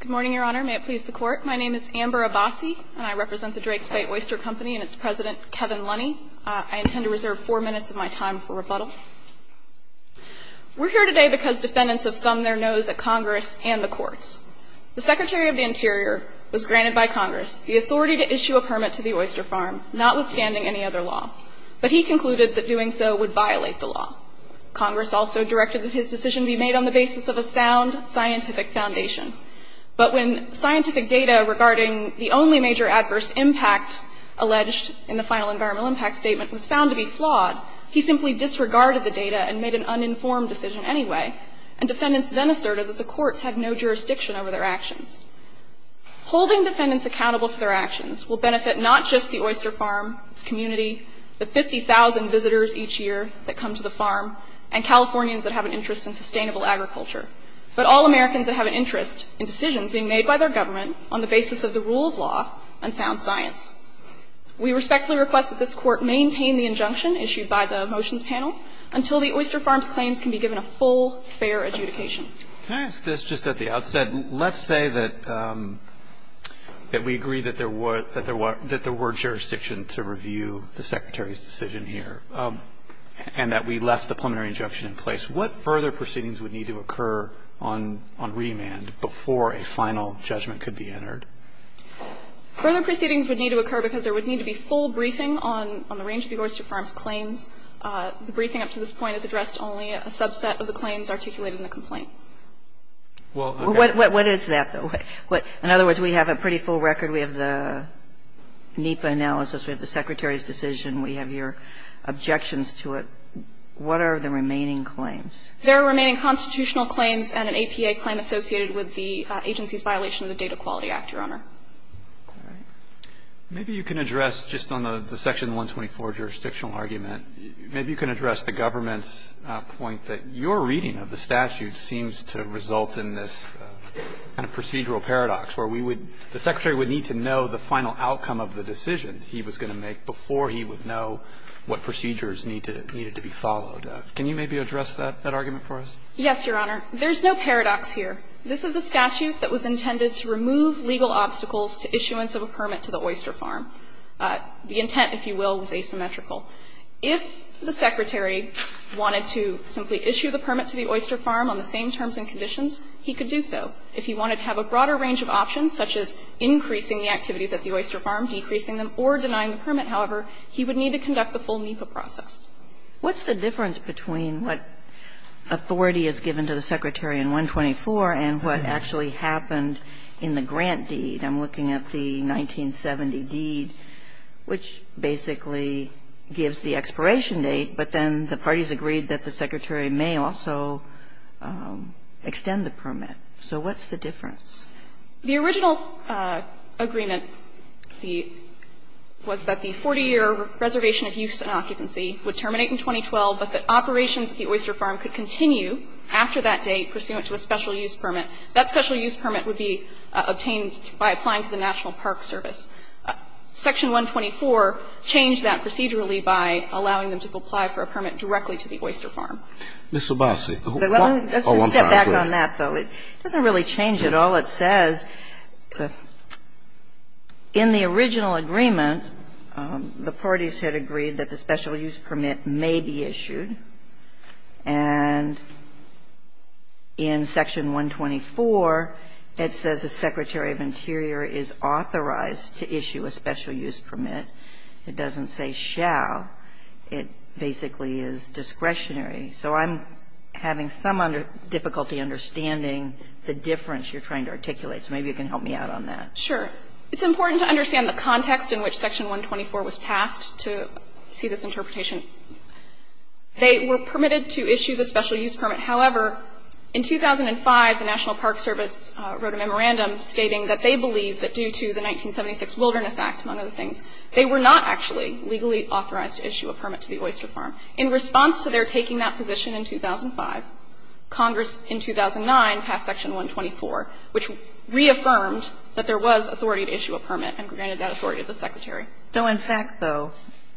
Good morning, Your Honor. May it please the Court. My name is Amber Abasi, and I represent the Drakes Bay Oyster Company and its president, Kevin Lunney. I intend to reserve four minutes of my time for rebuttal. We're here today because defendants have thumbed their nose at Congress and the courts. The Secretary of the Interior was granted by Congress the authority to issue a permit to the oyster farm, notwithstanding any other law. But he concluded that doing so would violate the law. Congress also directed that his decision be made on the basis of a sound scientific foundation. But when scientific data regarding the only major adverse impact alleged in the final environmental impact statement was found to be flawed, he simply disregarded the data and made an uninformed decision anyway. And defendants then asserted that the courts had no jurisdiction over their actions. Holding defendants accountable for their actions will benefit not just the oyster farm, its community, the 50,000 visitors each year that come to the farm, and Californians that have an interest in sustainable agriculture, but all Americans that have an interest in decisions being made by their government on the basis of the rule of law and sound science. We respectfully request that this Court maintain the injunction issued by the motions panel until the oyster farm's claims can be given a full, fair adjudication. Roberts, can I ask this just at the outset? Let's say that we agree that there were jurisdiction to review the Secretary's decision here and that we left the preliminary injunction in place. What further proceedings would need to occur on remand before a final judgment could be entered? Further proceedings would need to occur because there would need to be full briefing on the range of the oyster farm's claims. The briefing up to this point has addressed only a subset of the claims articulated in the complaint. Well, what is that? In other words, we have a pretty full record. We have the NEPA analysis. We have the Secretary's decision. We have your objections to it. What are the remaining claims? There are remaining constitutional claims and an APA claim associated with the agency's violation of the Data Quality Act, Your Honor. All right. Maybe you can address, just on the section 124 jurisdictional argument, maybe you can address the government's point that your reading of the statute seems to result in this kind of procedural paradox where we would, the Secretary would need to know the final outcome of the decision he was going to make before he would know what procedures needed to be followed. Can you maybe address that argument for us? Yes, Your Honor. There's no paradox here. This is a statute that was intended to remove legal obstacles to issuance of a permit to the oyster farm. The intent, if you will, was asymmetrical. If the Secretary wanted to simply issue the permit to the oyster farm on the same terms and conditions, he could do so. If he wanted to have a broader range of options, such as increasing the activities at the oyster farm, decreasing them, or denying the permit, however, he would need to conduct the full NEPA process. What's the difference between what authority is given to the Secretary in 124 and what actually happened in the grant deed? I'm looking at the 1970 deed, which basically gives the expiration date, but then the parties agreed that the Secretary may also extend the permit. So what's the difference? The original agreement was that the 40-year reservation of use and occupancy, would terminate in 2012, but that operations at the oyster farm could continue after that date pursuant to a special use permit. That special use permit would be obtained by applying to the National Park Service. Section 124 changed that procedurally by allowing them to apply for a permit directly to the oyster farm. Mr. Basi, why? Oh, I'm sorry. Let's just step back on that, though. It doesn't really change at all. It says in the original agreement, the parties had agreed that the special use permit may be issued, and in Section 124, it says the Secretary of Interior is authorized to issue a special use permit. It doesn't say shall. It basically is discretionary. So I'm having some difficulty understanding the difference you're trying to articulate, so maybe you can help me out on that. Sure. It's important to understand the context in which Section 124 was passed to see this interpretation. They were permitted to issue the special use permit. However, in 2005, the National Park Service wrote a memorandum stating that they believed that due to the 1976 Wilderness Act, among other things, they were not actually legally authorized to issue a permit to the oyster farm. In response to their taking that position in 2005, Congress in 2009 passed Section 124, which reaffirmed that there was authority to issue a permit and granted that authority to the Secretary. So in fact, though,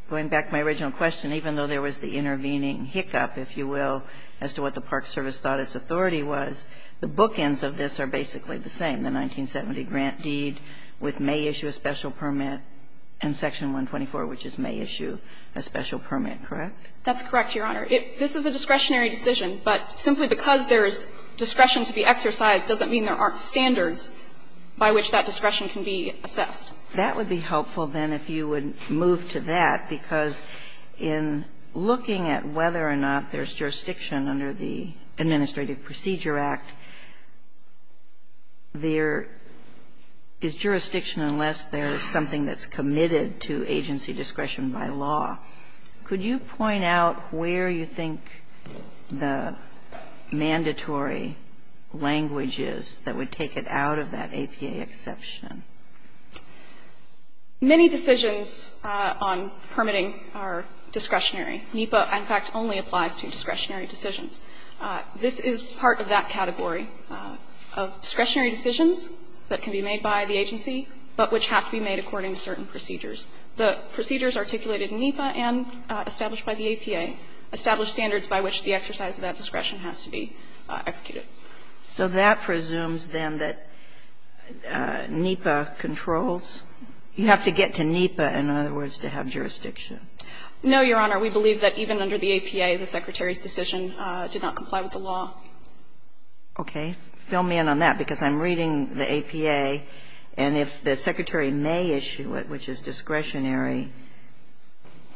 going back to my original question, even though there was the intervening hiccup, if you will, as to what the Park Service thought its authority was, the bookends of this are basically the same, the 1970 grant deed with may issue a special permit and Section 124, which is may issue a special permit, correct? That's correct, Your Honor. This is a discretionary decision, but simply because there is discretion to be exercised doesn't mean there aren't standards by which that discretion can be assessed. That would be helpful, then, if you would move to that, because in looking at whether or not there's jurisdiction under the Administrative Procedure Act, there is jurisdiction unless there is something that's committed to agency discretion by law. Could you point out where you think the mandatory language is that would take it out of that APA exception? Many decisions on permitting are discretionary. NEPA, in fact, only applies to discretionary decisions. This is part of that category of discretionary decisions that can be made by the agency, but which have to be made according to certain procedures. The procedures articulated in NEPA and established by the APA establish standards by which the exercise of that discretion has to be executed. So that presumes, then, that NEPA controls? You have to get to NEPA, in other words, to have jurisdiction. No, Your Honor. We believe that even under the APA, the Secretary's decision did not comply with the law. Okay. Fill me in on that, because I'm reading the APA, and if the Secretary may issue it, which is discretionary,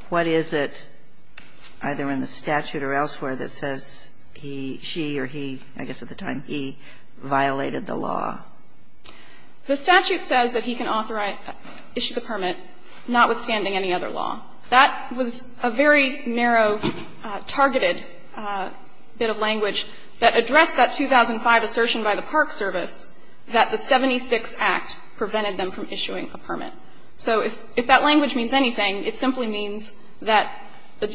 what is it, either in the statute or elsewhere, that says he, she, or he, I guess at the time he, violated the law? The statute says that he can authorize, issue the permit, notwithstanding any other law. That was a very narrow, targeted bit of language that addressed that 2005 assertion by the Park Service that the 76 Act prevented them from issuing a permit. So if that language means anything, it simply means that the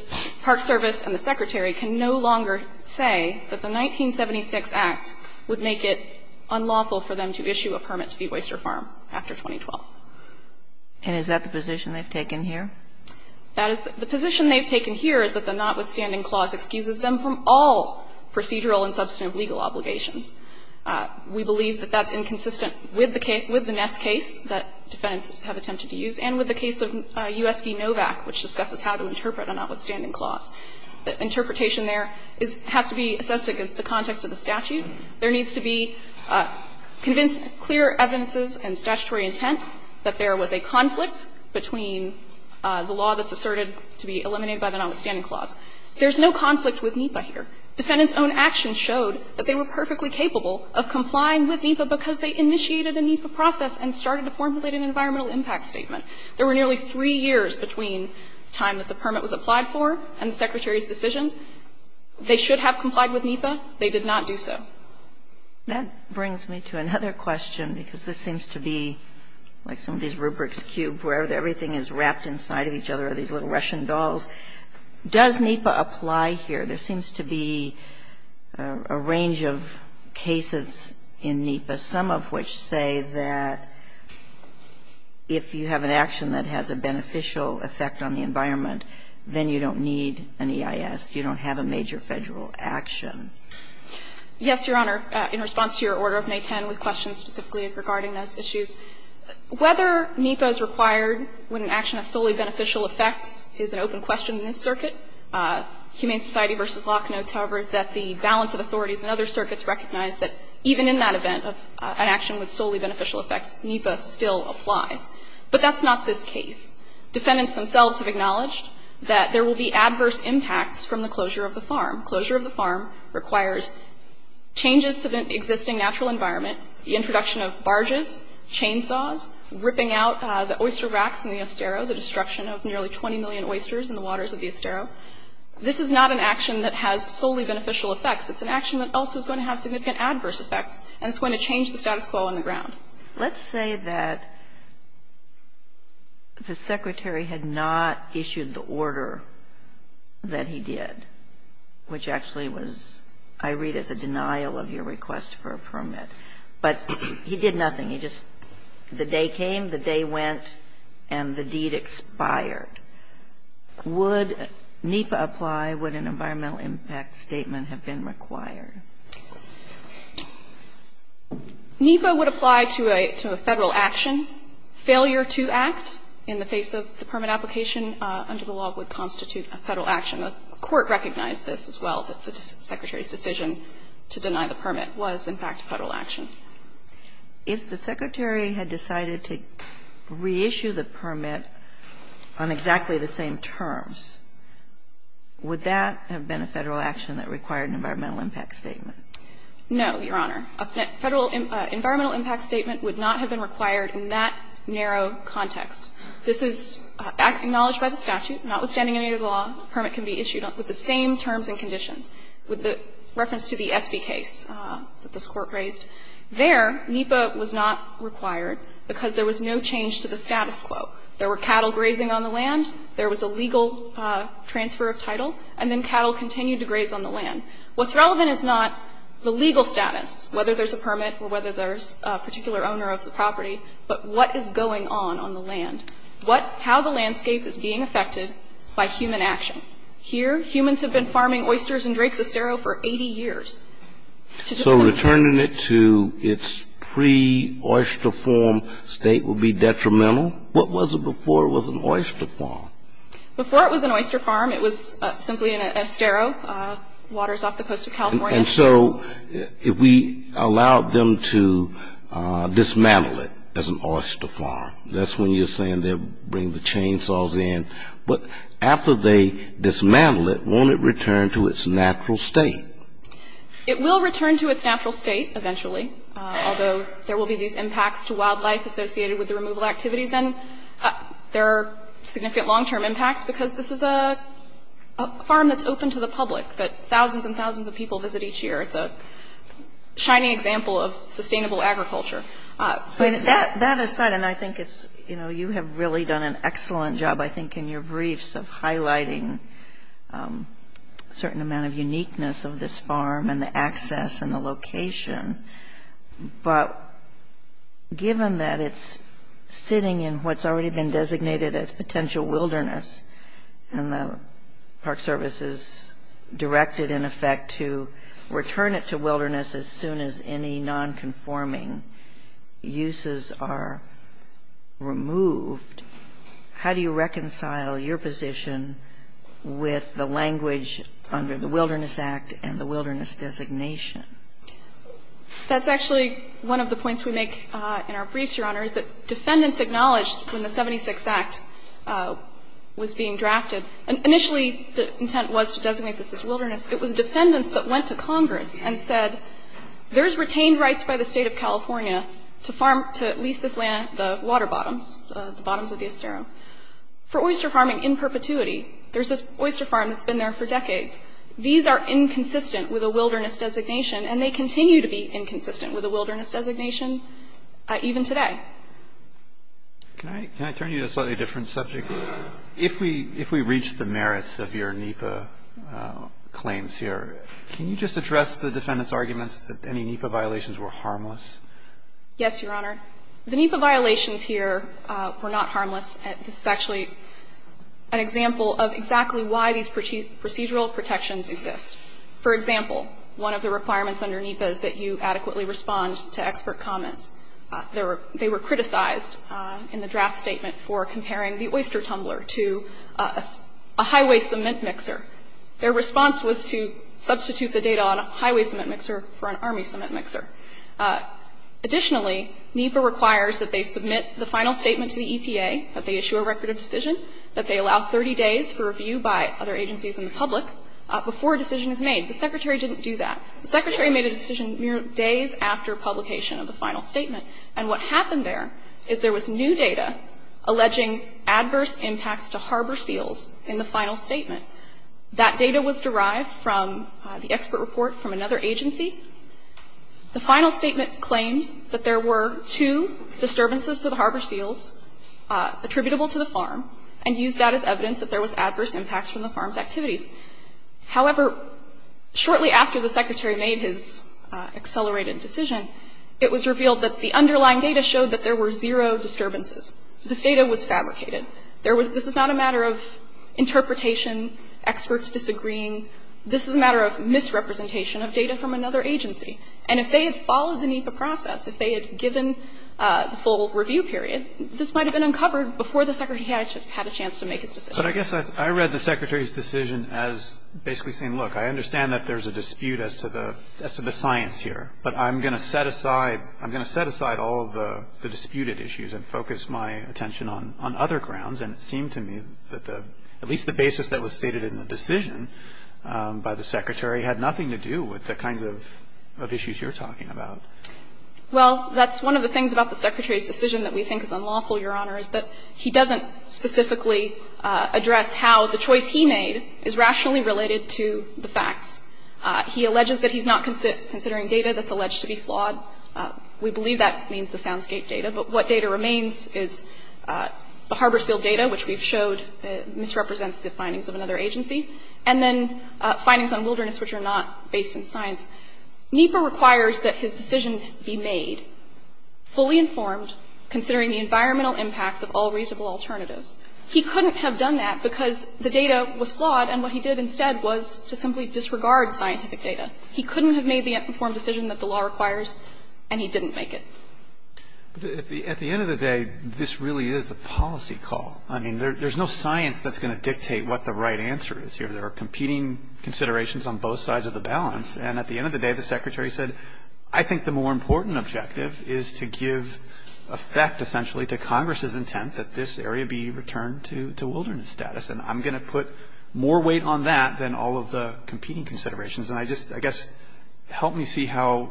Park Service and the Secretary can no longer say that the 1976 Act would make it unlawful for them to issue a permit to the oyster farm after 2012. And is that the position they've taken here? That is the position they've taken here is that the notwithstanding clause excuses them from all procedural and substantive legal obligations. We believe that that's inconsistent with the Ness case that defendants have attempted to use, and with the case of U.S. v. Novak, which discusses how to interpret a notwithstanding clause. The interpretation there has to be assessed against the context of the statute. There needs to be convinced clear evidences and statutory intent that there was a conflict between the law that's asserted to be eliminated by the notwithstanding clause. There's no conflict with NEPA here. Defendants' own actions showed that they were perfectly capable of complying with NEPA because they initiated a NEPA process and started to formulate an environmental impact statement. There were nearly three years between the time that the permit was applied for and the Secretary's decision. They should have complied with NEPA. They did not do so. That brings me to another question, because this seems to be like some of these rubrics cubed, where everything is wrapped inside of each other, these little Russian dolls. Does NEPA apply here? There seems to be a range of cases in NEPA, some of which say that if you have an action that has a beneficial effect on the environment, then you don't need an EIS. You don't have a major Federal action. Yes, Your Honor. In response to your order of May 10 with questions specifically regarding those issues, whether NEPA is required when an action has solely beneficial effects is an open question in this circuit. Humane Society v. Locke notes, however, that the balance of authorities and other circuits recognize that even in that event of an action with solely beneficial effects, NEPA still applies. But that's not this case. Defendants themselves have acknowledged that there will be adverse impacts from the closure of the farm. Closure of the farm requires changes to the existing natural environment, the introduction of barges, chainsaws, ripping out the oyster racks in the Estero, the destruction of nearly 20 million oysters in the waters of the Estero. This is not an action that has solely beneficial effects. It's an action that also is going to have significant adverse effects, and it's going to change the status quo on the ground. Let's say that the Secretary had not issued the order that he did, which actually was, I read as a denial of your request for a permit. But he did nothing. He just, the day came, the day went, and the deed expired. Would NEPA apply? Would an environmental impact statement have been required? NEPA would apply to a Federal action. Failure to act in the face of the permit application under the law would constitute a Federal action. The Court recognized this as well, that the Secretary's decision to deny the permit was, in fact, a Federal action. If the Secretary had decided to reissue the permit on exactly the same terms, would that have been a Federal action that required an environmental impact statement? No, Your Honor. A Federal environmental impact statement would not have been required in that narrow context. This is acknowledged by the statute. Notwithstanding any of the law, a permit can be issued with the same terms and conditions. With the reference to the Espy case that this Court raised, there, NEPA was not required because there was no change to the status quo. There were cattle grazing on the land, there was a legal transfer of title, and then cattle continued to graze on the land. What's relevant is not the legal status, whether there's a permit or whether there's a particular owner of the property, but what is going on on the land. What, how the landscape is being affected by human action. Here, humans have been farming oysters and drakes estero for 80 years. So returning it to its pre-oyster form state would be detrimental? What was it before it was an oyster farm? Before it was an oyster farm, it was simply an estero, waters off the coast of California. And so if we allowed them to dismantle it as an oyster farm, that's when you're saying they'll bring the chainsaws in. But after they dismantle it, won't it return to its natural state? It will return to its natural state eventually, although there will be these impacts to wildlife associated with the removal activities. And there are significant long-term impacts because this is a farm that's open to the public, that thousands and thousands of people visit each year. It's a shining example of sustainable agriculture. That aside, and I think it's, you know, you have really done an excellent job, I think, in your briefs of highlighting a certain amount of uniqueness of this farm and the access and the location. But given that it's sitting in what's already been designated as potential wilderness, and the Park Service is directed, in effect, to return it to wilderness as soon as any nonconforming uses are removed, how do you reconcile your position with the language under the Wilderness Act and the wilderness designation? That's actually one of the points we make in our briefs, Your Honor, is that defendants acknowledged when the 76th Act was being drafted. Initially, the intent was to designate this as wilderness. It was defendants that went to Congress and said, there's retained rights by the state of California to farm, to lease this land, the water bottoms, the bottoms of the Estero, for oyster farming in perpetuity. There's this oyster farm that's been there for decades. These are inconsistent with a wilderness designation, and they continue to be inconsistent with a wilderness designation even today. Can I turn you to a slightly different subject? If we reach the merits of your NEPA claims here, can you just address the defendant's arguments that any NEPA violations were harmless? Yes, Your Honor. The NEPA violations here were not harmless. This is actually an example of exactly why these procedural protections exist. For example, one of the requirements under NEPA is that you adequately respond to expert comments. They were criticized in the draft statement for comparing the oyster tumbler to a highway cement mixer. Their response was to substitute the data on a highway cement mixer for an army cement mixer. Additionally, NEPA requires that they submit the final statement to the EPA, that they issue a record of decision, that they allow 30 days for review by other agencies and the public before a decision is made. The Secretary didn't do that. The Secretary made a decision mere days after publication of the final statement, and what happened there is there was new data alleging adverse impacts to harbor seals in the final statement. That data was derived from the expert report from another agency. The final statement claimed that there were two disturbances to the harbor seals attributable to the farm and used that as evidence that there was adverse impacts from the farm's activities. However, shortly after the Secretary made his accelerated decision, it was revealed that the underlying data showed that there were zero disturbances. This data was fabricated. This is not a matter of interpretation, experts disagreeing. This is a matter of misrepresentation of data from another agency. And if they had followed the NEPA process, if they had given the full review period, this might have been uncovered before the Secretary had a chance to make his decision. But I guess I read the Secretary's decision as basically saying, look, I understand that there's a dispute as to the science here, but I'm going to set aside all of the disputed issues and focus my attention on other grounds. And it seemed to me that at least the basis that was stated in the decision by the Secretary had nothing to do with the kinds of issues you're talking about. Well, that's one of the things about the Secretary's decision that we think is unlawful, Your Honor, is that he doesn't specifically address how the choice he made is rationally related to the facts. He alleges that he's not considering data that's alleged to be flawed. We believe that means the Soundsgate data. But what data remains is the Harbor Seal data, which we've showed misrepresents the findings of another agency, and then findings on wilderness which are not based in science. NEPA requires that his decision be made fully informed, considering the environmental impacts of all reasonable alternatives. He couldn't have done that because the data was flawed, and what he did instead was to simply disregard scientific data. He couldn't have made the informed decision that the law requires, and he didn't make it. But at the end of the day, this really is a policy call. I mean, there's no science that's going to dictate what the right answer is here. There are competing considerations on both sides of the balance. And at the end of the day, the Secretary said, I think the more important objective is to give effect, essentially, to Congress's intent that this area be returned to wilderness status, and I'm going to put more weight on that than all of the competing considerations. And I just, I guess, help me see how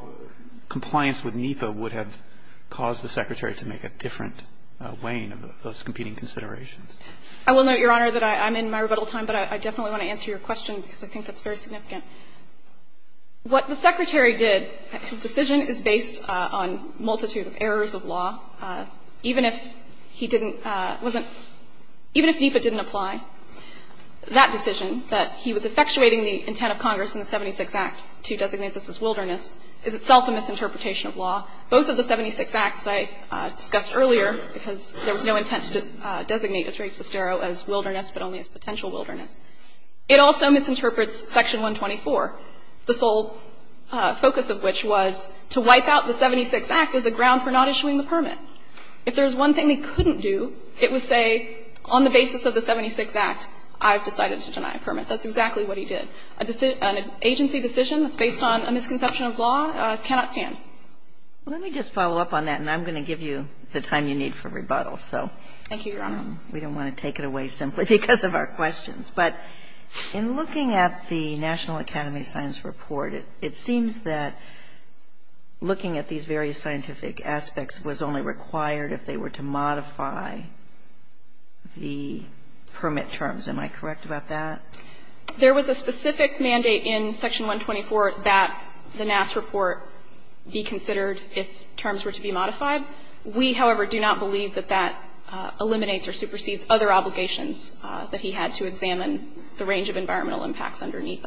compliance with NEPA would have caused the Secretary to make a different weighing of those competing considerations. I will note, Your Honor, that I'm in my rebuttal time, but I definitely want to answer your question because I think that's very significant. What the Secretary did, his decision is based on a multitude of errors of law. Even if he didn't, wasn't, even if NEPA didn't apply, that decision, that he was effectuating the intent of Congress in the 76 Act to designate this as wilderness is itself a misinterpretation of law. Both of the 76 Acts I discussed earlier, because there was no intent to designate Israel Sestero as wilderness, but only as potential wilderness. It also misinterprets Section 124, the sole focus of which was to wipe out the 76 Act as a ground for not issuing the permit. If there's one thing they couldn't do, it would say, on the basis of the 76 Act, I've decided to deny a permit. That's exactly what he did. An agency decision that's based on a misconception of law cannot stand. Let me just follow up on that, and I'm going to give you the time you need for rebuttal. Thank you, Your Honor. We don't want to take it away simply because of our questions. But in looking at the National Academy of Science report, it seems that looking at these various scientific aspects was only required if they were to modify the permit terms. Am I correct about that? There was a specific mandate in Section 124 that the Nass report be considered if terms were to be modified. We, however, do not believe that that eliminates or supersedes other obligations that he had to examine the range of environmental impacts underneath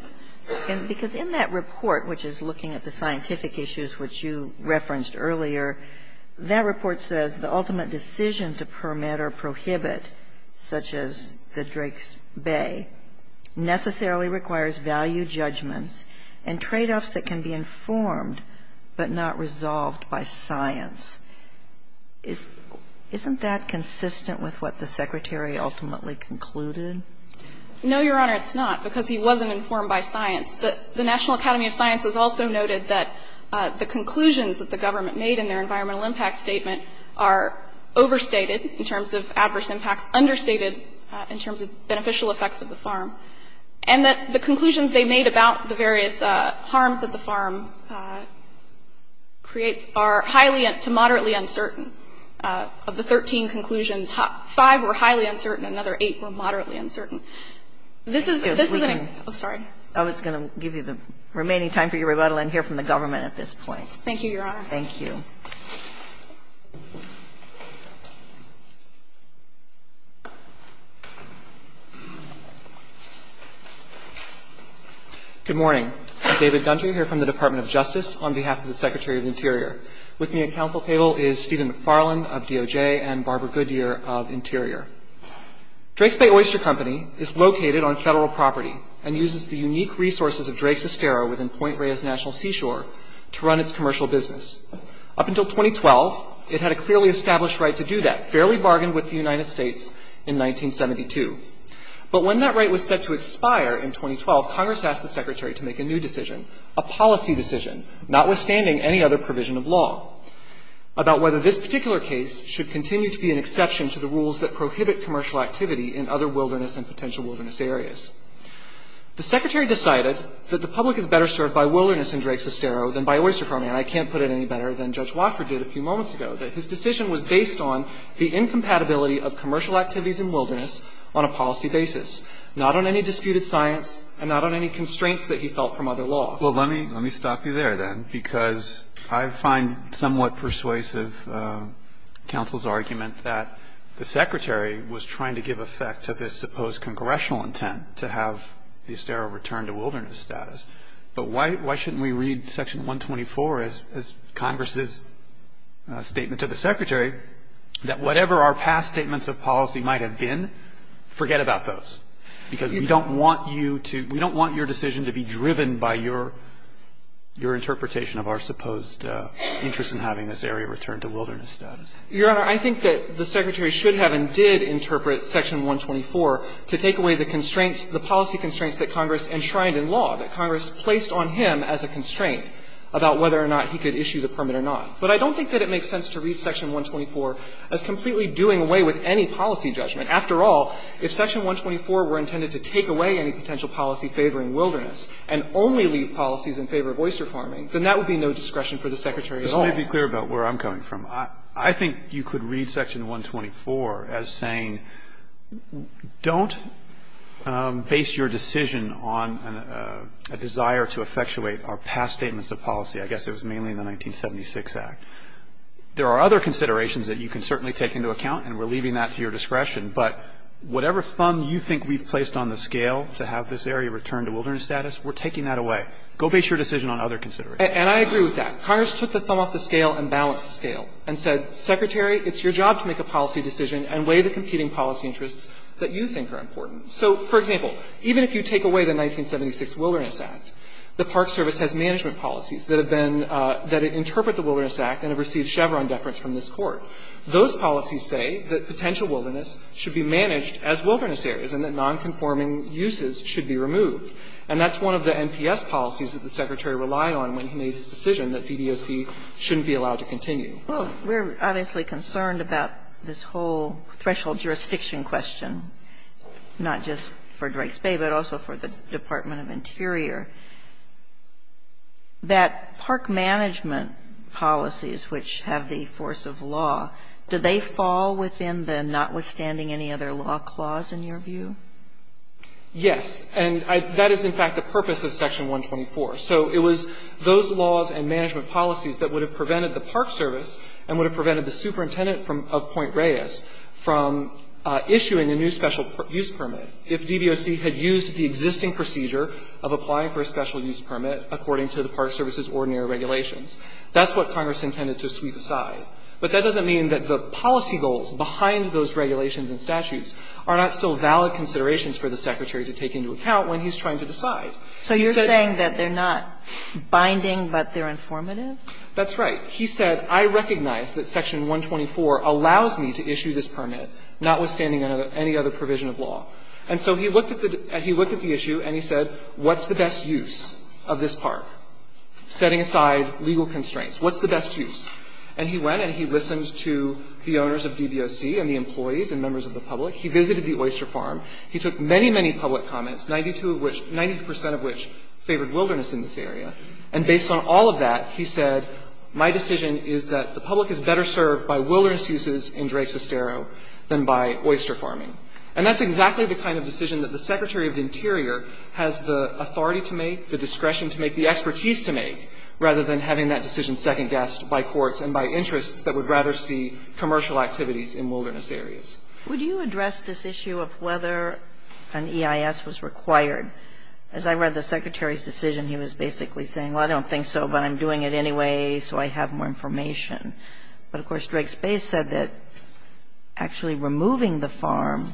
them. Because in that report, which is looking at the scientific issues which you referenced earlier, that report says the ultimate decision to permit or prohibit, such as the Drake's Bay, necessarily requires value judgments and tradeoffs that can be informed but not resolved by science. Isn't that consistent with what the Secretary ultimately concluded? No, Your Honor, it's not, because he wasn't informed by science. The National Academy of Science has also noted that the conclusions that the government made in their environmental impact statement are overstated in terms of adverse impacts, understated in terms of beneficial effects of the farm, and that the conclusions they made about the various harms that the farm creates are highly to moderately uncertain. Of the 13 conclusions, five were highly uncertain and another eight were moderately uncertain. This is an example. I'm sorry. I was going to give you the remaining time for your rebuttal and hear from the government at this point. Thank you, Your Honor. Thank you. Thank you. Good morning. I'm David Gunter. I'm here from the Department of Justice on behalf of the Secretary of the Interior. With me at council table is Stephen McFarlane of DOJ and Barbara Goodyear of Interior. Drake's Bay Oyster Company is located on federal property and uses the unique resources of Drake's Estero within Point Reyes National Seashore to run its commercial business. Up until 2012, it had a clearly established right to do that, fairly bargained with the United States in 1972. But when that right was set to expire in 2012, Congress asked the Secretary to make a new decision, a policy decision, notwithstanding any other provision of law, about whether this particular case should continue to be an exception to the rules that prohibit commercial activity in other wilderness and potential wilderness areas. The Secretary decided that the public is better served by wilderness in Drake's Estero than by Oyster Company. And I can't put it any better than Judge Wofford did a few moments ago, that his decision was based on the incompatibility of commercial activities in wilderness on a policy basis, not on any disputed science and not on any constraints that he felt from other law. Well, let me stop you there, then, because I find somewhat persuasive counsel's argument that the Secretary was trying to give effect to this supposed congressional intent to have the Estero return to wilderness status. But why shouldn't we read Section 124 as Congress's statement to the Secretary that whatever our past statements of policy might have been, forget about those? Because we don't want you to we don't want your decision to be driven by your interpretation of our supposed interest in having this area returned to wilderness status. Your Honor, I think that the Secretary should have and did interpret Section 124 to take away the constraints, the policy constraints that Congress enshrined in law, that Congress placed on him as a constraint about whether or not he could issue the permit or not. But I don't think that it makes sense to read Section 124 as completely doing away with any policy judgment. After all, if Section 124 were intended to take away any potential policy favoring wilderness and only leave policies in favor of oyster farming, then that would be no discretion for the Secretary at all. This may be clear about where I'm coming from. I think you could read Section 124 as saying don't base your decision on a desire to effectuate our past statements of policy. I guess it was mainly in the 1976 Act. There are other considerations that you can certainly take into account, and we're leaving that to your discretion. But whatever thumb you think we've placed on the scale to have this area returned to wilderness status, we're taking that away. Go base your decision on other considerations. And I agree with that. Congress took the thumb off the scale and balanced the scale and said, Secretary, it's your job to make a policy decision and weigh the competing policy interests that you think are important. So, for example, even if you take away the 1976 Wilderness Act, the Park Service has management policies that have been – that interpret the Wilderness Act and have received Chevron deference from this Court. Those policies say that potential wilderness should be managed as wilderness areas and that nonconforming uses should be removed. And that's one of the NPS policies that the Secretary relied on when he made his decision that DDOC shouldn't be allowed to continue. We're obviously concerned about this whole threshold jurisdiction question, not just for Drake's Bay, but also for the Department of Interior. That park management policies, which have the force of law, do they fall within the notwithstanding any other law clause, in your view? Yes. And that is, in fact, the purpose of Section 124. So it was those laws and management policies that would have prevented the Park Service and would have prevented the superintendent of Point Reyes from issuing a new special use permit if DBOC had used the existing procedure of applying for a special use permit according to the Park Service's ordinary regulations. That's what Congress intended to sweep aside. But that doesn't mean that the policy goals behind those regulations and statutes are not still valid considerations for the Secretary to take into account when he's trying to decide. So you're saying that they're not binding, but they're informative? That's right. He said, I recognize that Section 124 allows me to issue this permit, notwithstanding any other provision of law. And so he looked at the issue and he said, what's the best use of this park, setting aside legal constraints? What's the best use? And he went and he listened to the owners of DBOC and the employees and members of the public. He visited the oyster farm. He took many, many public comments, 92 of which — 90 percent of which favored wilderness in this area. And based on all of that, he said, my decision is that the public is better served by wilderness uses in Drake's Estero than by oyster farming. And that's exactly the kind of decision that the Secretary of the Interior has the authority to make, the discretion to make, the expertise to make, rather than having that decision second-guessed by courts and by interests that would rather see commercial activities in wilderness areas. Would you address this issue of whether an EIS was required? As I read the Secretary's decision, he was basically saying, well, I don't think so, but I'm doing it anyway, so I have more information. But, of course, Drake's Bay said that actually removing the farm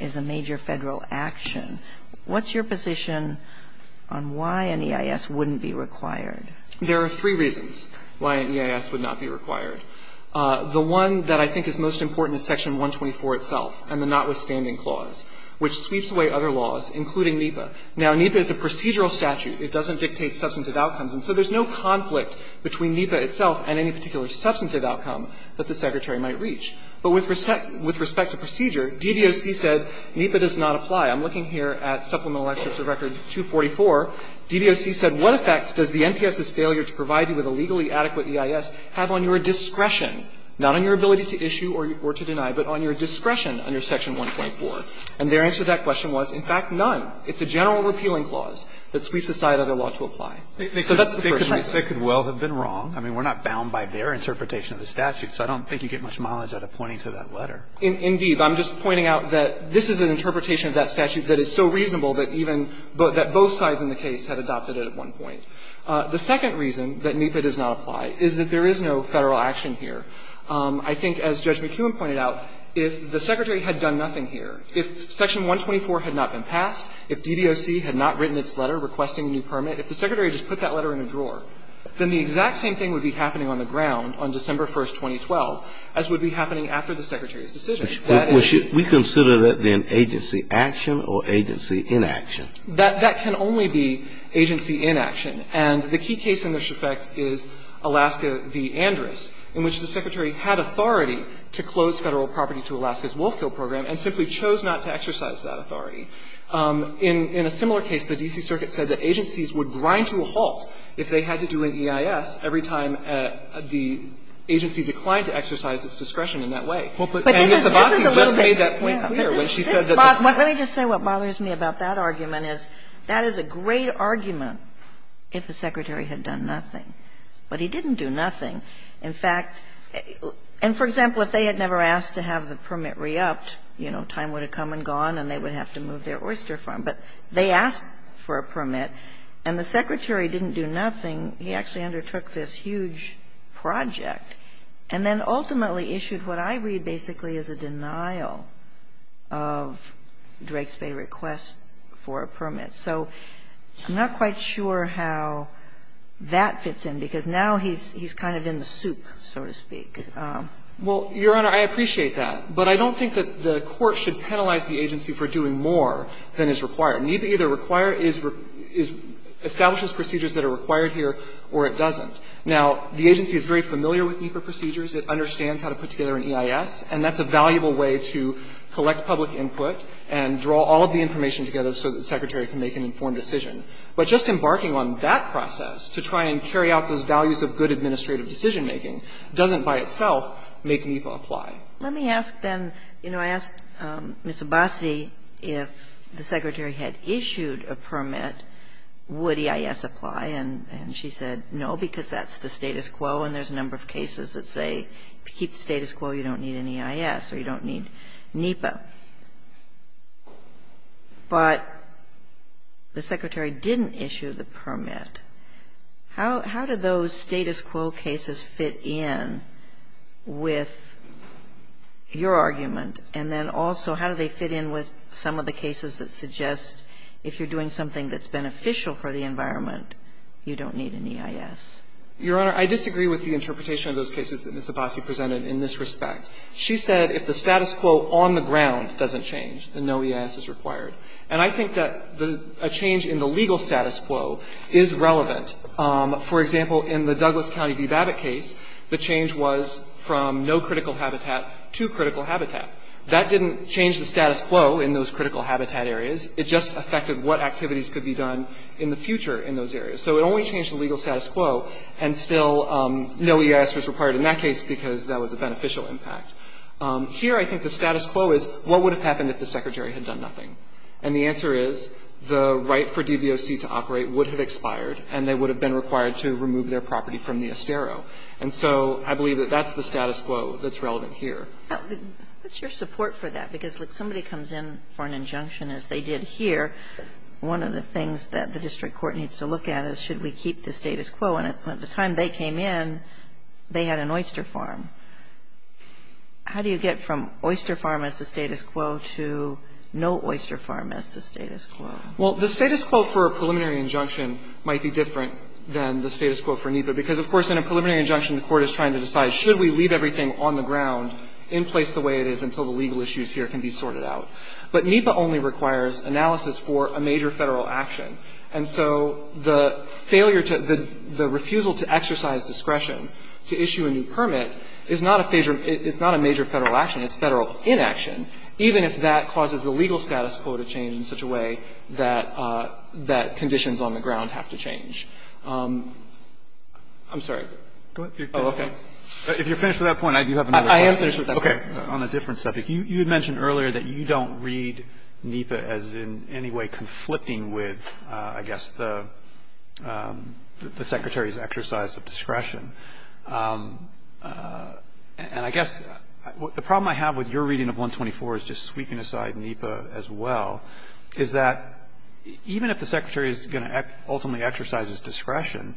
is a major Federal action. What's your position on why an EIS wouldn't be required? There are three reasons why an EIS would not be required. The one that I think is most important is Section 124 itself and the notwithstanding clause, which sweeps away other laws, including NEPA. Now, NEPA is a procedural statute. It doesn't dictate substantive outcomes. And so there's no conflict between NEPA itself and any particular substantive outcome that the Secretary might reach. But with respect to procedure, DDOC said NEPA does not apply. I'm looking here at Supplemental Excerpt of Record 244. DDOC said, what effect does the NPS's failure to provide you with a legally adequate EIS have on your discretion, not on your ability to issue or to deny, but on your discretion under Section 124? And their answer to that question was, in fact, none. It's a general repealing clause that sweeps aside other law to apply. So that's the first reason. Kennedy. They could well have been wrong. I mean, we're not bound by their interpretation of the statute, so I don't think you get much mileage out of pointing to that letter. Indeed. I'm just pointing out that this is an interpretation of that statute that is so reasonable that even both sides in the case had adopted it at one point. The second reason that NEPA does not apply is that there is no Federal action here. I think, as Judge McKeown pointed out, if the Secretary had done nothing here, if Section 124 had not been passed, if DDOC had not written its letter requesting a new permit, if the Secretary just put that letter in a drawer, then the exact same thing would be happening on the ground on December 1st, 2012, as would be happening after the Secretary's decision. We consider that then agency action or agency inaction? That can only be agency inaction. And the key case in this effect is Alaska v. Andrus, in which the Secretary had authority to close Federal property to Alaska's wolf kill program and simply chose not to exercise that authority. In a similar case, the D.C. Circuit said that agencies would grind to a halt if they had to do an EIS every time the agency declined to exercise its discretion in that way. And Ms. Abbasi just made that point clear when she said that the fact that the agency would grind to a halt if the Secretary had done nothing is a great argument if the Secretary had done nothing. But he didn't do nothing. In fact, and for example, if they had never asked to have the permit re-upped, you know, time would have come and gone and they would have to move their oyster farm. But they asked for a permit and the Secretary didn't do nothing. He actually undertook this huge project and then ultimately issued what I read basically is a denial of Drake's Bay request for a permit. So I'm not quite sure how that fits in because now he's kind of in the soup, so to speak. Well, Your Honor, I appreciate that. But I don't think that the court should penalize the agency for doing more than is required. NEPA either establishes procedures that are required here or it doesn't. Now, the agency is very familiar with NEPA procedures. It understands how to put together an EIS. And that's a valuable way to collect public input and draw all of the information together so that the Secretary can make an informed decision. But just embarking on that process to try and carry out those values of good administrative decision-making doesn't by itself make NEPA apply. Let me ask then, you know, I asked Ms. Abbasi if the Secretary had issued a permit, would EIS apply? And she said no, because that's the status quo and there's a number of cases that say if you keep the status quo, you don't need an EIS or you don't need NEPA. But the Secretary didn't issue the permit. How do those status quo cases fit in with your argument? And then also, how do they fit in with some of the cases that suggest if you're doing something that's beneficial for the environment, you don't need an EIS? Your Honor, I disagree with the interpretation of those cases that Ms. Abbasi presented in this respect. She said if the status quo on the ground doesn't change, then no EIS is required. And I think that a change in the legal status quo is relevant. For example, in the Douglas County v. Babbitt case, the change was from no critical habitat to critical habitat. That didn't change the status quo in those critical habitat areas. It just affected what activities could be done in the future in those areas. So it only changed the legal status quo, and still no EIS was required in that case because that was a beneficial impact. Here, I think the status quo is what would have happened if the Secretary had done nothing? And the answer is the right for DBOC to operate would have expired, and they would have been required to remove their property from the estero. And so I believe that that's the status quo that's relevant here. What's your support for that? Because, look, somebody comes in for an injunction, as they did here. One of the things that the district court needs to look at is should we keep the status quo? And at the time they came in, they had an oyster farm. How do you get from oyster farm as the status quo to no oyster farm as the status quo? Well, the status quo for a preliminary injunction might be different than the status quo for NEPA because, of course, in a preliminary injunction, the court is trying to decide should we leave everything on the ground in place the way it is until the legal issues here can be sorted out. But NEPA only requires analysis for a major Federal action. And so the failure to the refusal to exercise discretion to issue a new permit is not a major Federal action. It's Federal inaction, even if that causes the legal status quo to change in such a way that conditions on the ground have to change. I'm sorry. Oh, okay. If you're finished with that point, I do have another question. I am finished with that point. Okay. On a different subject. You had mentioned earlier that you don't read NEPA as in any way conflicting with, I guess, the Secretary's exercise of discretion. And I guess the problem I have with your reading of 124 is just sweeping aside NEPA as well, is that even if the Secretary is going to ultimately exercise his discretion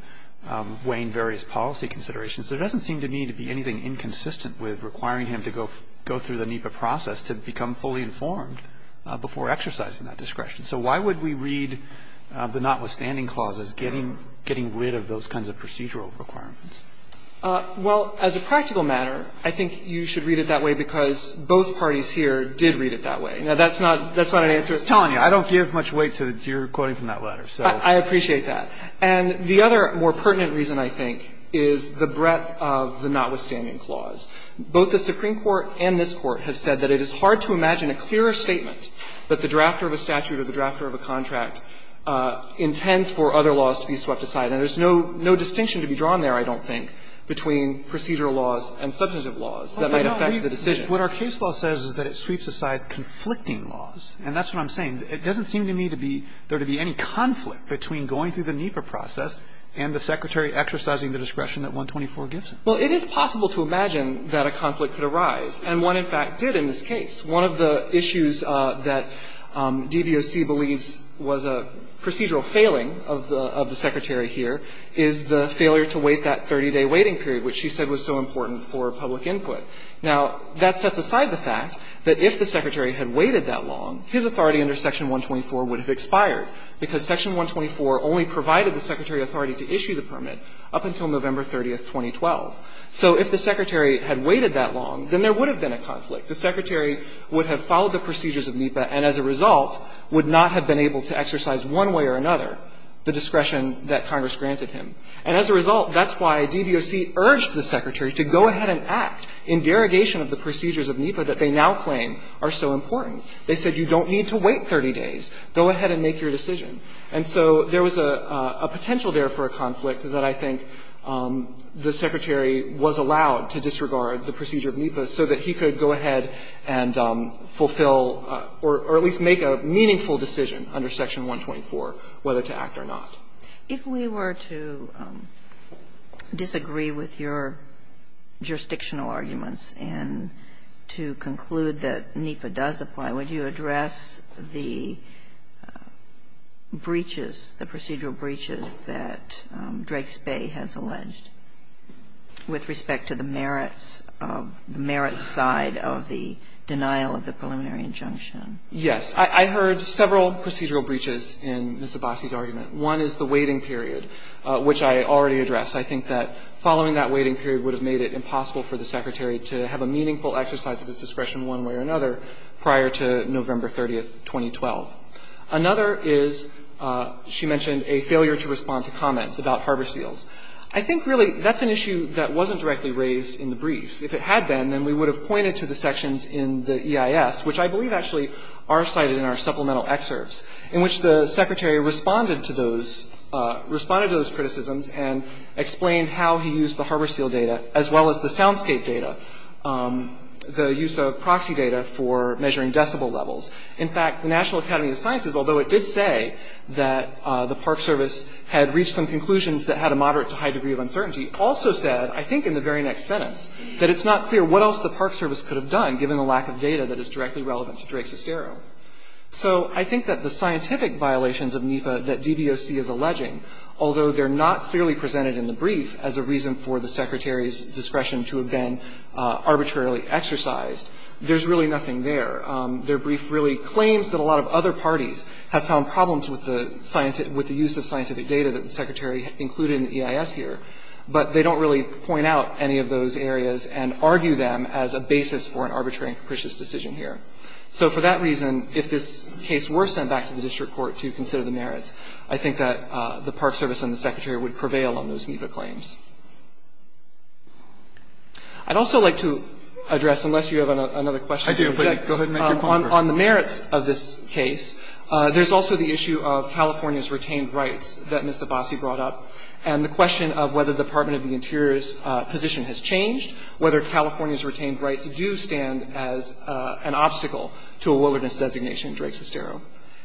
weighing various policy considerations, there doesn't seem to me to be anything inconsistent with requiring him to go through the NEPA process to become fully informed before exercising that discretion. So why would we read the notwithstanding clause as getting rid of those kinds of procedural requirements? Well, as a practical matter, I think you should read it that way because both parties here did read it that way. Now, that's not an answer. I'm telling you, I don't give much weight to your quoting from that letter. I appreciate that. And the other more pertinent reason, I think, is the breadth of the notwithstanding clause. Both the Supreme Court and this Court have said that it is hard to imagine a clearer statement that the drafter of a statute or the drafter of a contract intends for other laws to be swept aside. And there's no distinction to be drawn there, I don't think, between procedural laws and substantive laws that might affect the decision. What our case law says is that it sweeps aside conflicting laws, and that's what I'm saying. And it doesn't seem to me to be – there to be any conflict between going through the NEPA process and the Secretary exercising the discretion that 124 gives him. Well, it is possible to imagine that a conflict could arise, and one, in fact, did in this case. One of the issues that DVOC believes was a procedural failing of the Secretary here is the failure to wait that 30-day waiting period, which she said was so important for public input. Now, that sets aside the fact that if the Secretary had waited that long, his authority under Section 124 would have expired, because Section 124 only provided the Secretary authority to issue the permit up until November 30th, 2012. So if the Secretary had waited that long, then there would have been a conflict. The Secretary would have followed the procedures of NEPA and, as a result, would not have been able to exercise one way or another the discretion that Congress granted him. And as a result, that's why DVOC urged the Secretary to go ahead and act in derogation of the procedures of NEPA that they now claim are so important. They said, you don't need to wait 30 days. Go ahead and make your decision. And so there was a potential there for a conflict that I think the Secretary was allowed to disregard the procedure of NEPA so that he could go ahead and fulfill or at least make a meaningful decision under Section 124, whether to act or not. Kagan, if we were to disagree with your jurisdictional arguments and to conclude that NEPA does apply, would you address the breaches, the procedural breaches that Drake's Bay has alleged with respect to the merits of the merits side of the denial of the preliminary injunction? Yes. I heard several procedural breaches in Ms. Abbasi's argument. One is the waiting period, which I already addressed. I think that following that waiting period would have made it impossible for the Secretary to have a meaningful exercise of his discretion one way or another prior to November 30, 2012. Another is, she mentioned, a failure to respond to comments about harbor seals. I think, really, that's an issue that wasn't directly raised in the briefs. If it had been, then we would have pointed to the sections in the EIS, which I believe actually are cited in our supplemental excerpts, in which the Secretary responded to those criticisms and explained how he used the harbor seal data, as well as the use of proxy data for measuring decibel levels. In fact, the National Academy of Sciences, although it did say that the Park Service had reached some conclusions that had a moderate to high degree of uncertainty, also said, I think in the very next sentence, that it's not clear what else the Park Service could have done, given the lack of data that is directly relevant to Drake's Estero. So I think that the scientific violations of NEPA that DBOC is alleging, although they're not clearly presented in the brief as a reason for the Secretary's discretion to have been arbitrarily exercised, there's really nothing there. Their brief really claims that a lot of other parties have found problems with the use of scientific data that the Secretary included in the EIS here, but they don't really point out any of those areas and argue them as a basis for an arbitrary and capricious decision here. So for that reason, if this case were sent back to the district court to consider the merits, I think that the Park Service and the Secretary would prevail on those NEPA claims. I'd also like to address, unless you have another question. Go ahead and make your point first. On the merits of this case, there's also the issue of California's retained rights that Ms. Abbasi brought up, and the question of whether the Department of the Interior's position has changed, whether California's retained rights do stand as an obstacle to a wilderness designation in Drake's Estero.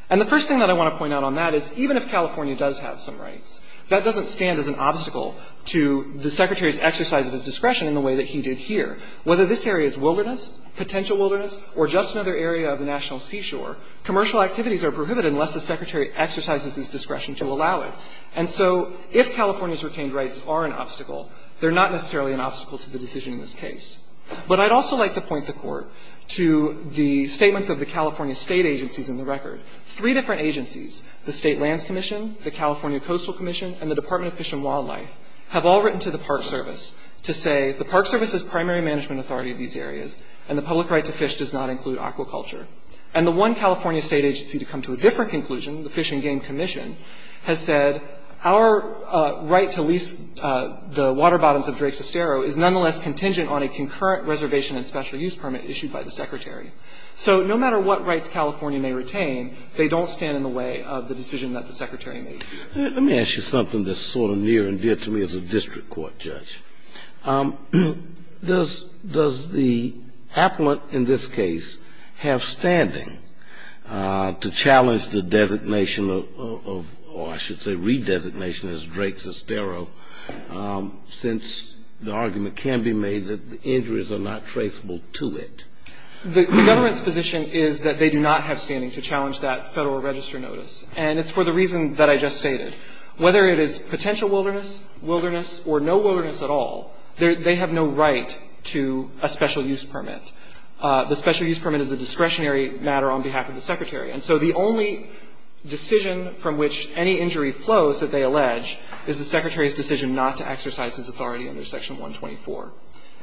And the first thing that I want to point out on that is even if California does have some rights, that doesn't stand as an obstacle to the Secretary's exercise of his discretion in the way that he did here. Whether this area is wilderness, potential wilderness, or just another area of the national seashore, commercial activities are prohibited unless the Secretary exercises his discretion to allow it. And so if California's retained rights are an obstacle, they're not necessarily an obstacle to the decision in this case. But I'd also like to point the Court to the statements of the California State agencies in the record. Three different agencies, the State Lands Commission, the California Coastal Commission, and the Department of Fish and Wildlife, have all written to the Park Service to say the Park Service is primary management authority of these areas, and the public right to fish does not include aquaculture. And the one California state agency to come to a different conclusion, the Fish and Game Commission, has said our right to lease the water bottoms of Drake's Estero is nonetheless contingent on a concurrent reservation and special use permit issued by the Secretary. So no matter what rights California may retain, they don't stand in the way of the decision that the Secretary made. Let me ask you something that's sort of near and dear to me as a district court judge. Does the appellant in this case have standing to challenge the designation of or I should say redesignation as Drake's Estero, since the argument can be made that the injuries are not traceable to it? The government's position is that they do not have standing to challenge that Federal Register notice. And it's for the reason that I just stated. Whether it is potential wilderness, wilderness, or no wilderness at all, they have no right to a special use permit. The special use permit is a discretionary matter on behalf of the Secretary. And so the only decision from which any injury flows that they allege is the Secretary's decision not to exercise his authority under Section 124.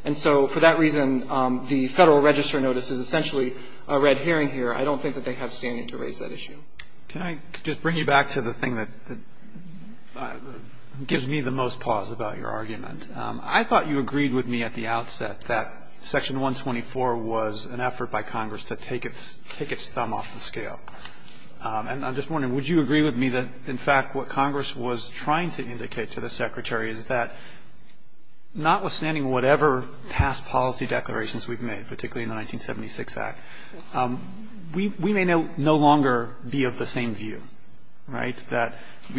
And so for that reason, the Federal Register notice is essentially a red herring here. I don't think that they have standing to raise that issue. Can I just bring you back to the thing that gives me the most pause about your argument? I thought you agreed with me at the outset that Section 124 was an effort by Congress to take its thumb off the scale. And I'm just wondering, would you agree with me that, in fact, what Congress was trying to indicate to the Secretary is that, notwithstanding whatever past policy declarations we've made, particularly in the 1976 Act, we may no longer be of the same view, right? That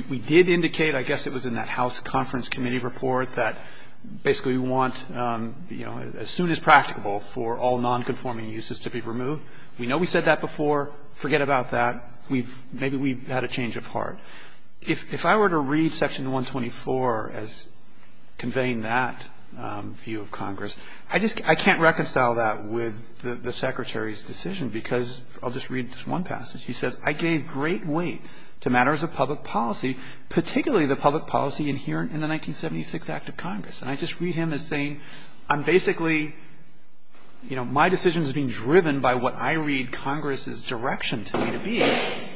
we did indicate, I guess it was in that House Conference Committee report, that basically we want, you know, as soon as practicable for all nonconforming uses to be removed. We know we said that before. Forget about that. Maybe we've had a change of heart. But if I were to read Section 124 as conveying that view of Congress, I just can't reconcile that with the Secretary's decision, because I'll just read this one passage. He says, I gave great weight to matters of public policy, particularly the public policy inherent in the 1976 Act of Congress. And I just read him as saying, I'm basically, you know, my decisions are being driven by what I read Congress's direction to me to be.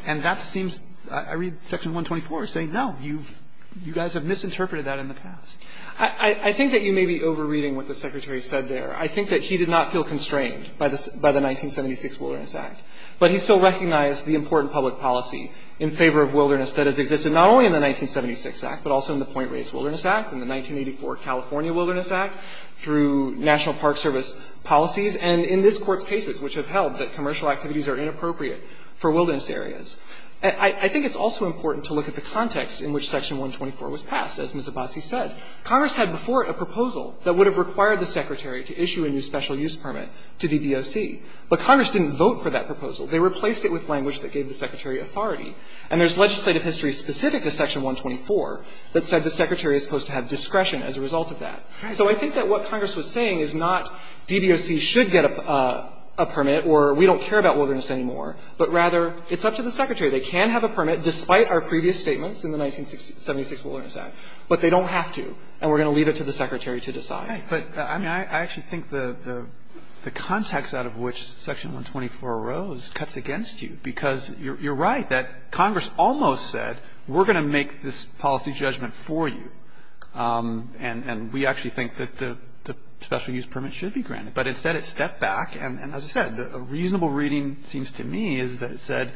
And that seems, I read Section 124 as saying, no, you've, you guys have misinterpreted that in the past. I think that you may be over-reading what the Secretary said there. I think that he did not feel constrained by the 1976 Wilderness Act. But he still recognized the important public policy in favor of wilderness that has existed not only in the 1976 Act, but also in the Point Reyes Wilderness Act, in the 1984 California Wilderness Act, through National Park Service policies. And in this Court's cases, which have held that commercial activities are inappropriate for wilderness areas. I think it's also important to look at the context in which Section 124 was passed, as Ms. Abbasi said. Congress had before it a proposal that would have required the Secretary to issue a new special use permit to DBOC. But Congress didn't vote for that proposal. They replaced it with language that gave the Secretary authority. And there's legislative history specific to Section 124 that said the Secretary is supposed to have discretion as a result of that. So I think that what Congress was saying is not DBOC should get a permit or we don't care about wilderness anymore, but rather it's up to the Secretary. They can have a permit, despite our previous statements in the 1976 Wilderness Act, but they don't have to. And we're going to leave it to the Secretary to decide. Roberts. But I mean, I actually think the context out of which Section 124 arose cuts against you, because you're right that Congress almost said we're going to make this policy judgment for you. And we actually think that the special use permit should be granted. But instead it stepped back. And as I said, a reasonable reading, it seems to me, is that it said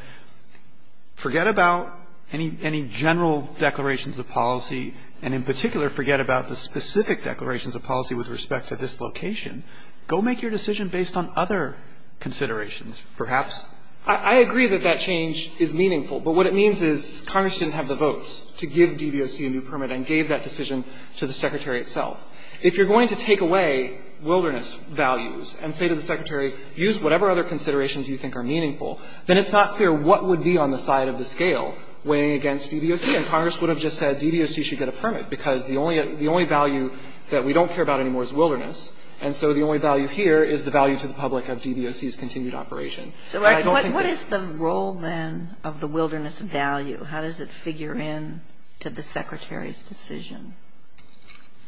forget about any general declarations of policy, and in particular forget about the specific declarations of policy with respect to this location. Go make your decision based on other considerations, perhaps. I agree that that change is meaningful. But what it means is Congress didn't have the votes to give DBOC a new permit and gave that decision to the Secretary itself. If you're going to take away wilderness values and say to the Secretary, use whatever other considerations you think are meaningful, then it's not clear what would be on the side of the scale weighing against DBOC. And Congress would have just said DBOC should get a permit, because the only value that we don't care about anymore is wilderness. And so the only value here is the value to the public of DBOC's continued operation. But I don't think that's the case. So what is the role, then, of the wilderness value? How does it figure in to the Secretary's decision?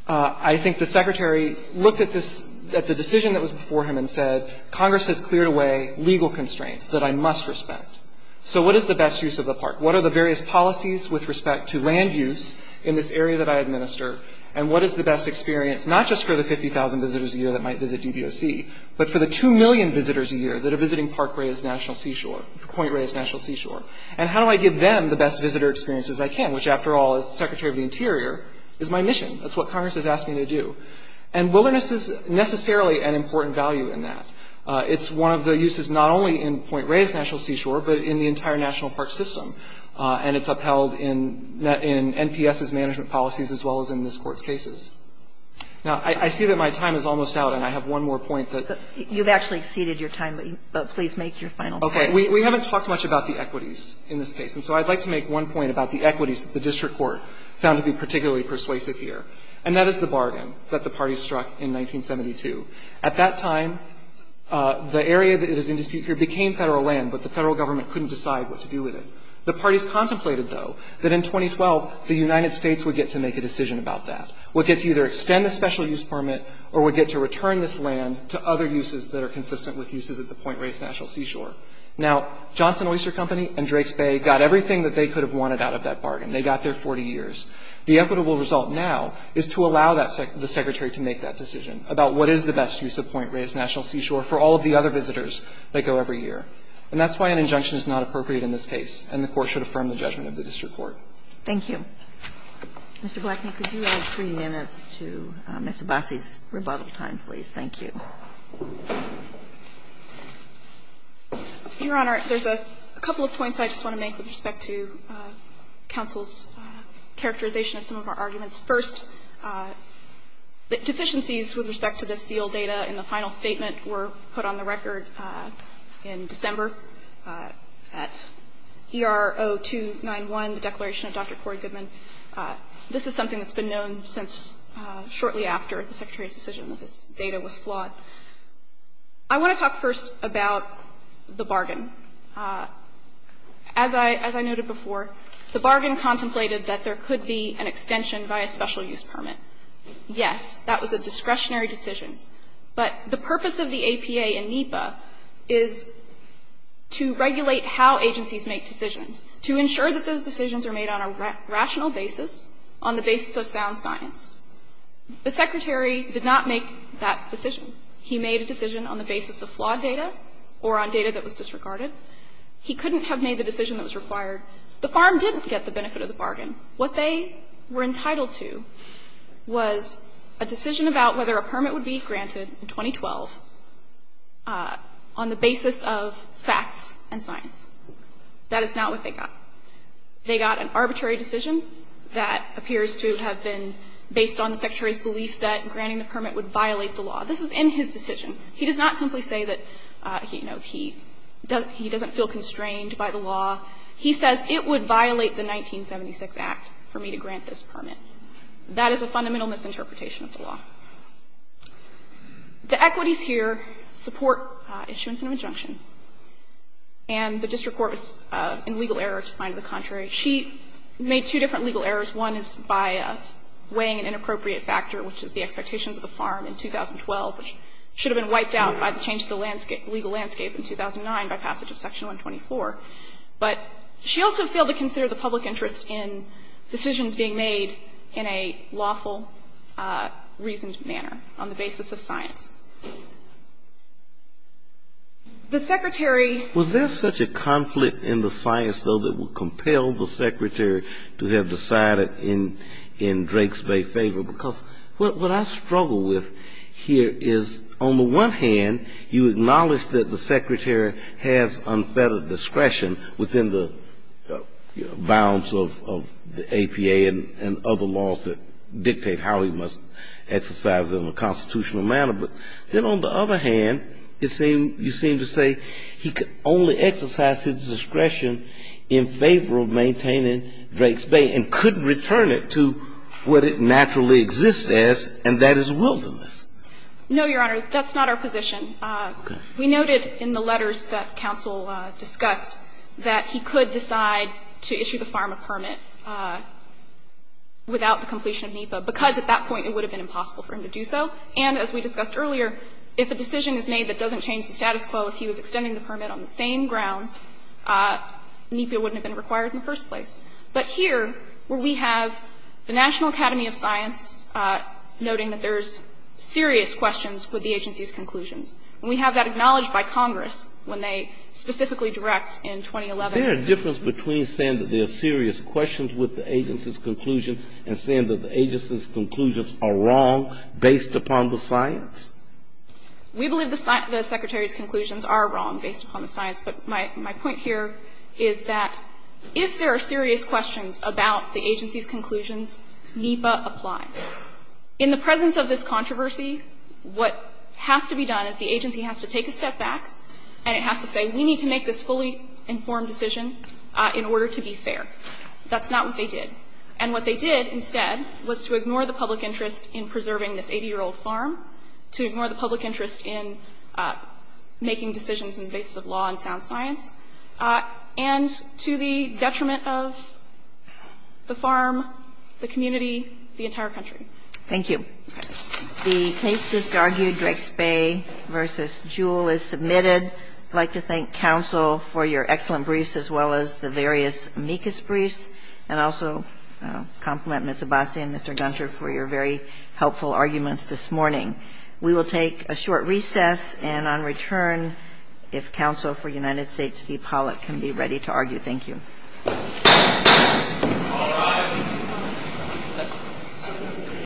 I think the Secretary looked at the decision that was before him and said, Congress has cleared away legal constraints that I must respect. So what is the best use of the park? What are the various policies with respect to land use in this area that I administer? And what is the best experience, not just for the 50,000 visitors a year that might visit DBOC, but for the 2 million visitors a year that are visiting Point Reyes National Seashore? And how do I give them the best visitor experience as I can, which, after all, as Secretary of the Interior, is my mission. That's what Congress has asked me to do. And wilderness is necessarily an important value in that. It's one of the uses not only in Point Reyes National Seashore, but in the entire national park system. And it's upheld in NPS's management policies as well as in this Court's cases. Now, I see that my time is almost out, and I have one more point that ---- You've actually exceeded your time, but please make your final point. Okay. We haven't talked much about the equities in this case. And so I'd like to make one point about the equities that the District Court found to be particularly persuasive here. And that is the bargain that the parties struck in 1972. At that time, the area that is in dispute here became federal land, but the federal government couldn't decide what to do with it. The parties contemplated, though, that in 2012 the United States would get to make a decision about that, would get to either extend the special use permit or would get to return this land to other uses that are consistent with uses at the Point Reyes National Seashore. Now, Johnson Oyster Company and Drake's Bay got everything that they could have wanted out of that bargain. They got their 40 years. The equitable result now is to allow the Secretary to make that decision about what is the best use of Point Reyes National Seashore for all of the other visitors that go every year. And that's why an injunction is not appropriate in this case, and the Court should affirm the judgment of the District Court. Thank you. Mr. Blackman, could you add three minutes to Mr. Bassi's rebuttal time, please? Thank you. Your Honor, there's a couple of points I just want to make with respect to counsel's characterization of some of our arguments. First, deficiencies with respect to the seal data in the final statement were put on the record in December at ER 0291, the declaration of Dr. Cory Goodman. This is something that's been known since shortly after the Secretary's decision that this data was flawed. I want to talk first about the bargain. As I noted before, the bargain contemplated that there could be an extension by a special use permit. Yes, that was a discretionary decision, but the purpose of the APA and NEPA is to regulate how agencies make decisions, to ensure that those decisions are made on a rational basis, on the basis of sound science. The Secretary did not make that decision. He made a decision on the basis of flawed data or on data that was disregarded. He couldn't have made the decision that was required. The Farm didn't get the benefit of the bargain. What they were entitled to was a decision about whether a permit would be granted in 2012 on the basis of facts and science. That is not what they got. They got an arbitrary decision that appears to have been based on the Secretary's belief that granting the permit would violate the law. This is in his decision. He does not simply say that, you know, he doesn't feel constrained by the law. He says it would violate the 1976 Act for me to grant this permit. That is a fundamental misinterpretation of the law. The equities here support issuance and injunction. And the district court was in legal error to find the contrary. She made two different legal errors. One is by weighing an inappropriate factor, which is the expectations of the Farm in 2012, which should have been wiped out by the change of the landscape, legal landscape, in 2009 by passage of Section 124. But she also failed to consider the public interest in decisions being made in a lawful, reasoned manner on the basis of science. The Secretary Was there such a conflict in the science, though, that would compel the Secretary to have decided in Drake's favor? Because what I struggle with here is, on the one hand, you acknowledge that the Secretary has unfettered discretion within the bounds of the APA and other laws that dictate how he must exercise them in a constitutional manner. But then on the other hand, you seem to say he could only exercise his discretion in favor of maintaining Drake's Bay and couldn't return it to what it naturally exists as, and that is wilderness. No, Your Honor. That's not our position. Okay. We noted in the letters that counsel discussed that he could decide to issue the pharma permit without the completion of NEPA, because at that point it would have been impossible for him to do so. And as we discussed earlier, if a decision is made that doesn't change the status quo, if he was extending the permit on the same grounds, NEPA wouldn't have been required in the first place. But here, where we have the National Academy of Science noting that there is serious questions with the agency's conclusions, and we have that acknowledged by Congress when they specifically direct in 2011. There is a difference between saying that there are serious questions with the agency's conclusions are wrong based upon the science? We believe the secretary's conclusions are wrong based upon the science. But my point here is that if there are serious questions about the agency's conclusions, NEPA applies. In the presence of this controversy, what has to be done is the agency has to take a step back and it has to say we need to make this fully informed decision in order to be fair. That's not what they did. And what they did instead was to ignore the public interest in preserving this 80-year-old farm, to ignore the public interest in making decisions on the basis of law and sound science, and to the detriment of the farm, the community, the entire country. Thank you. The case just argued, Drake's Bay v. Jewell, is submitted. I'd like to thank counsel for your excellent briefs as well as the various amicus briefs, and also compliment Ms. Abbasi and Mr. Gunter for your very helpful arguments this morning. We will take a short recess, and on return, if counsel for United States v. Pollack can be ready to argue. Thank you. All rise.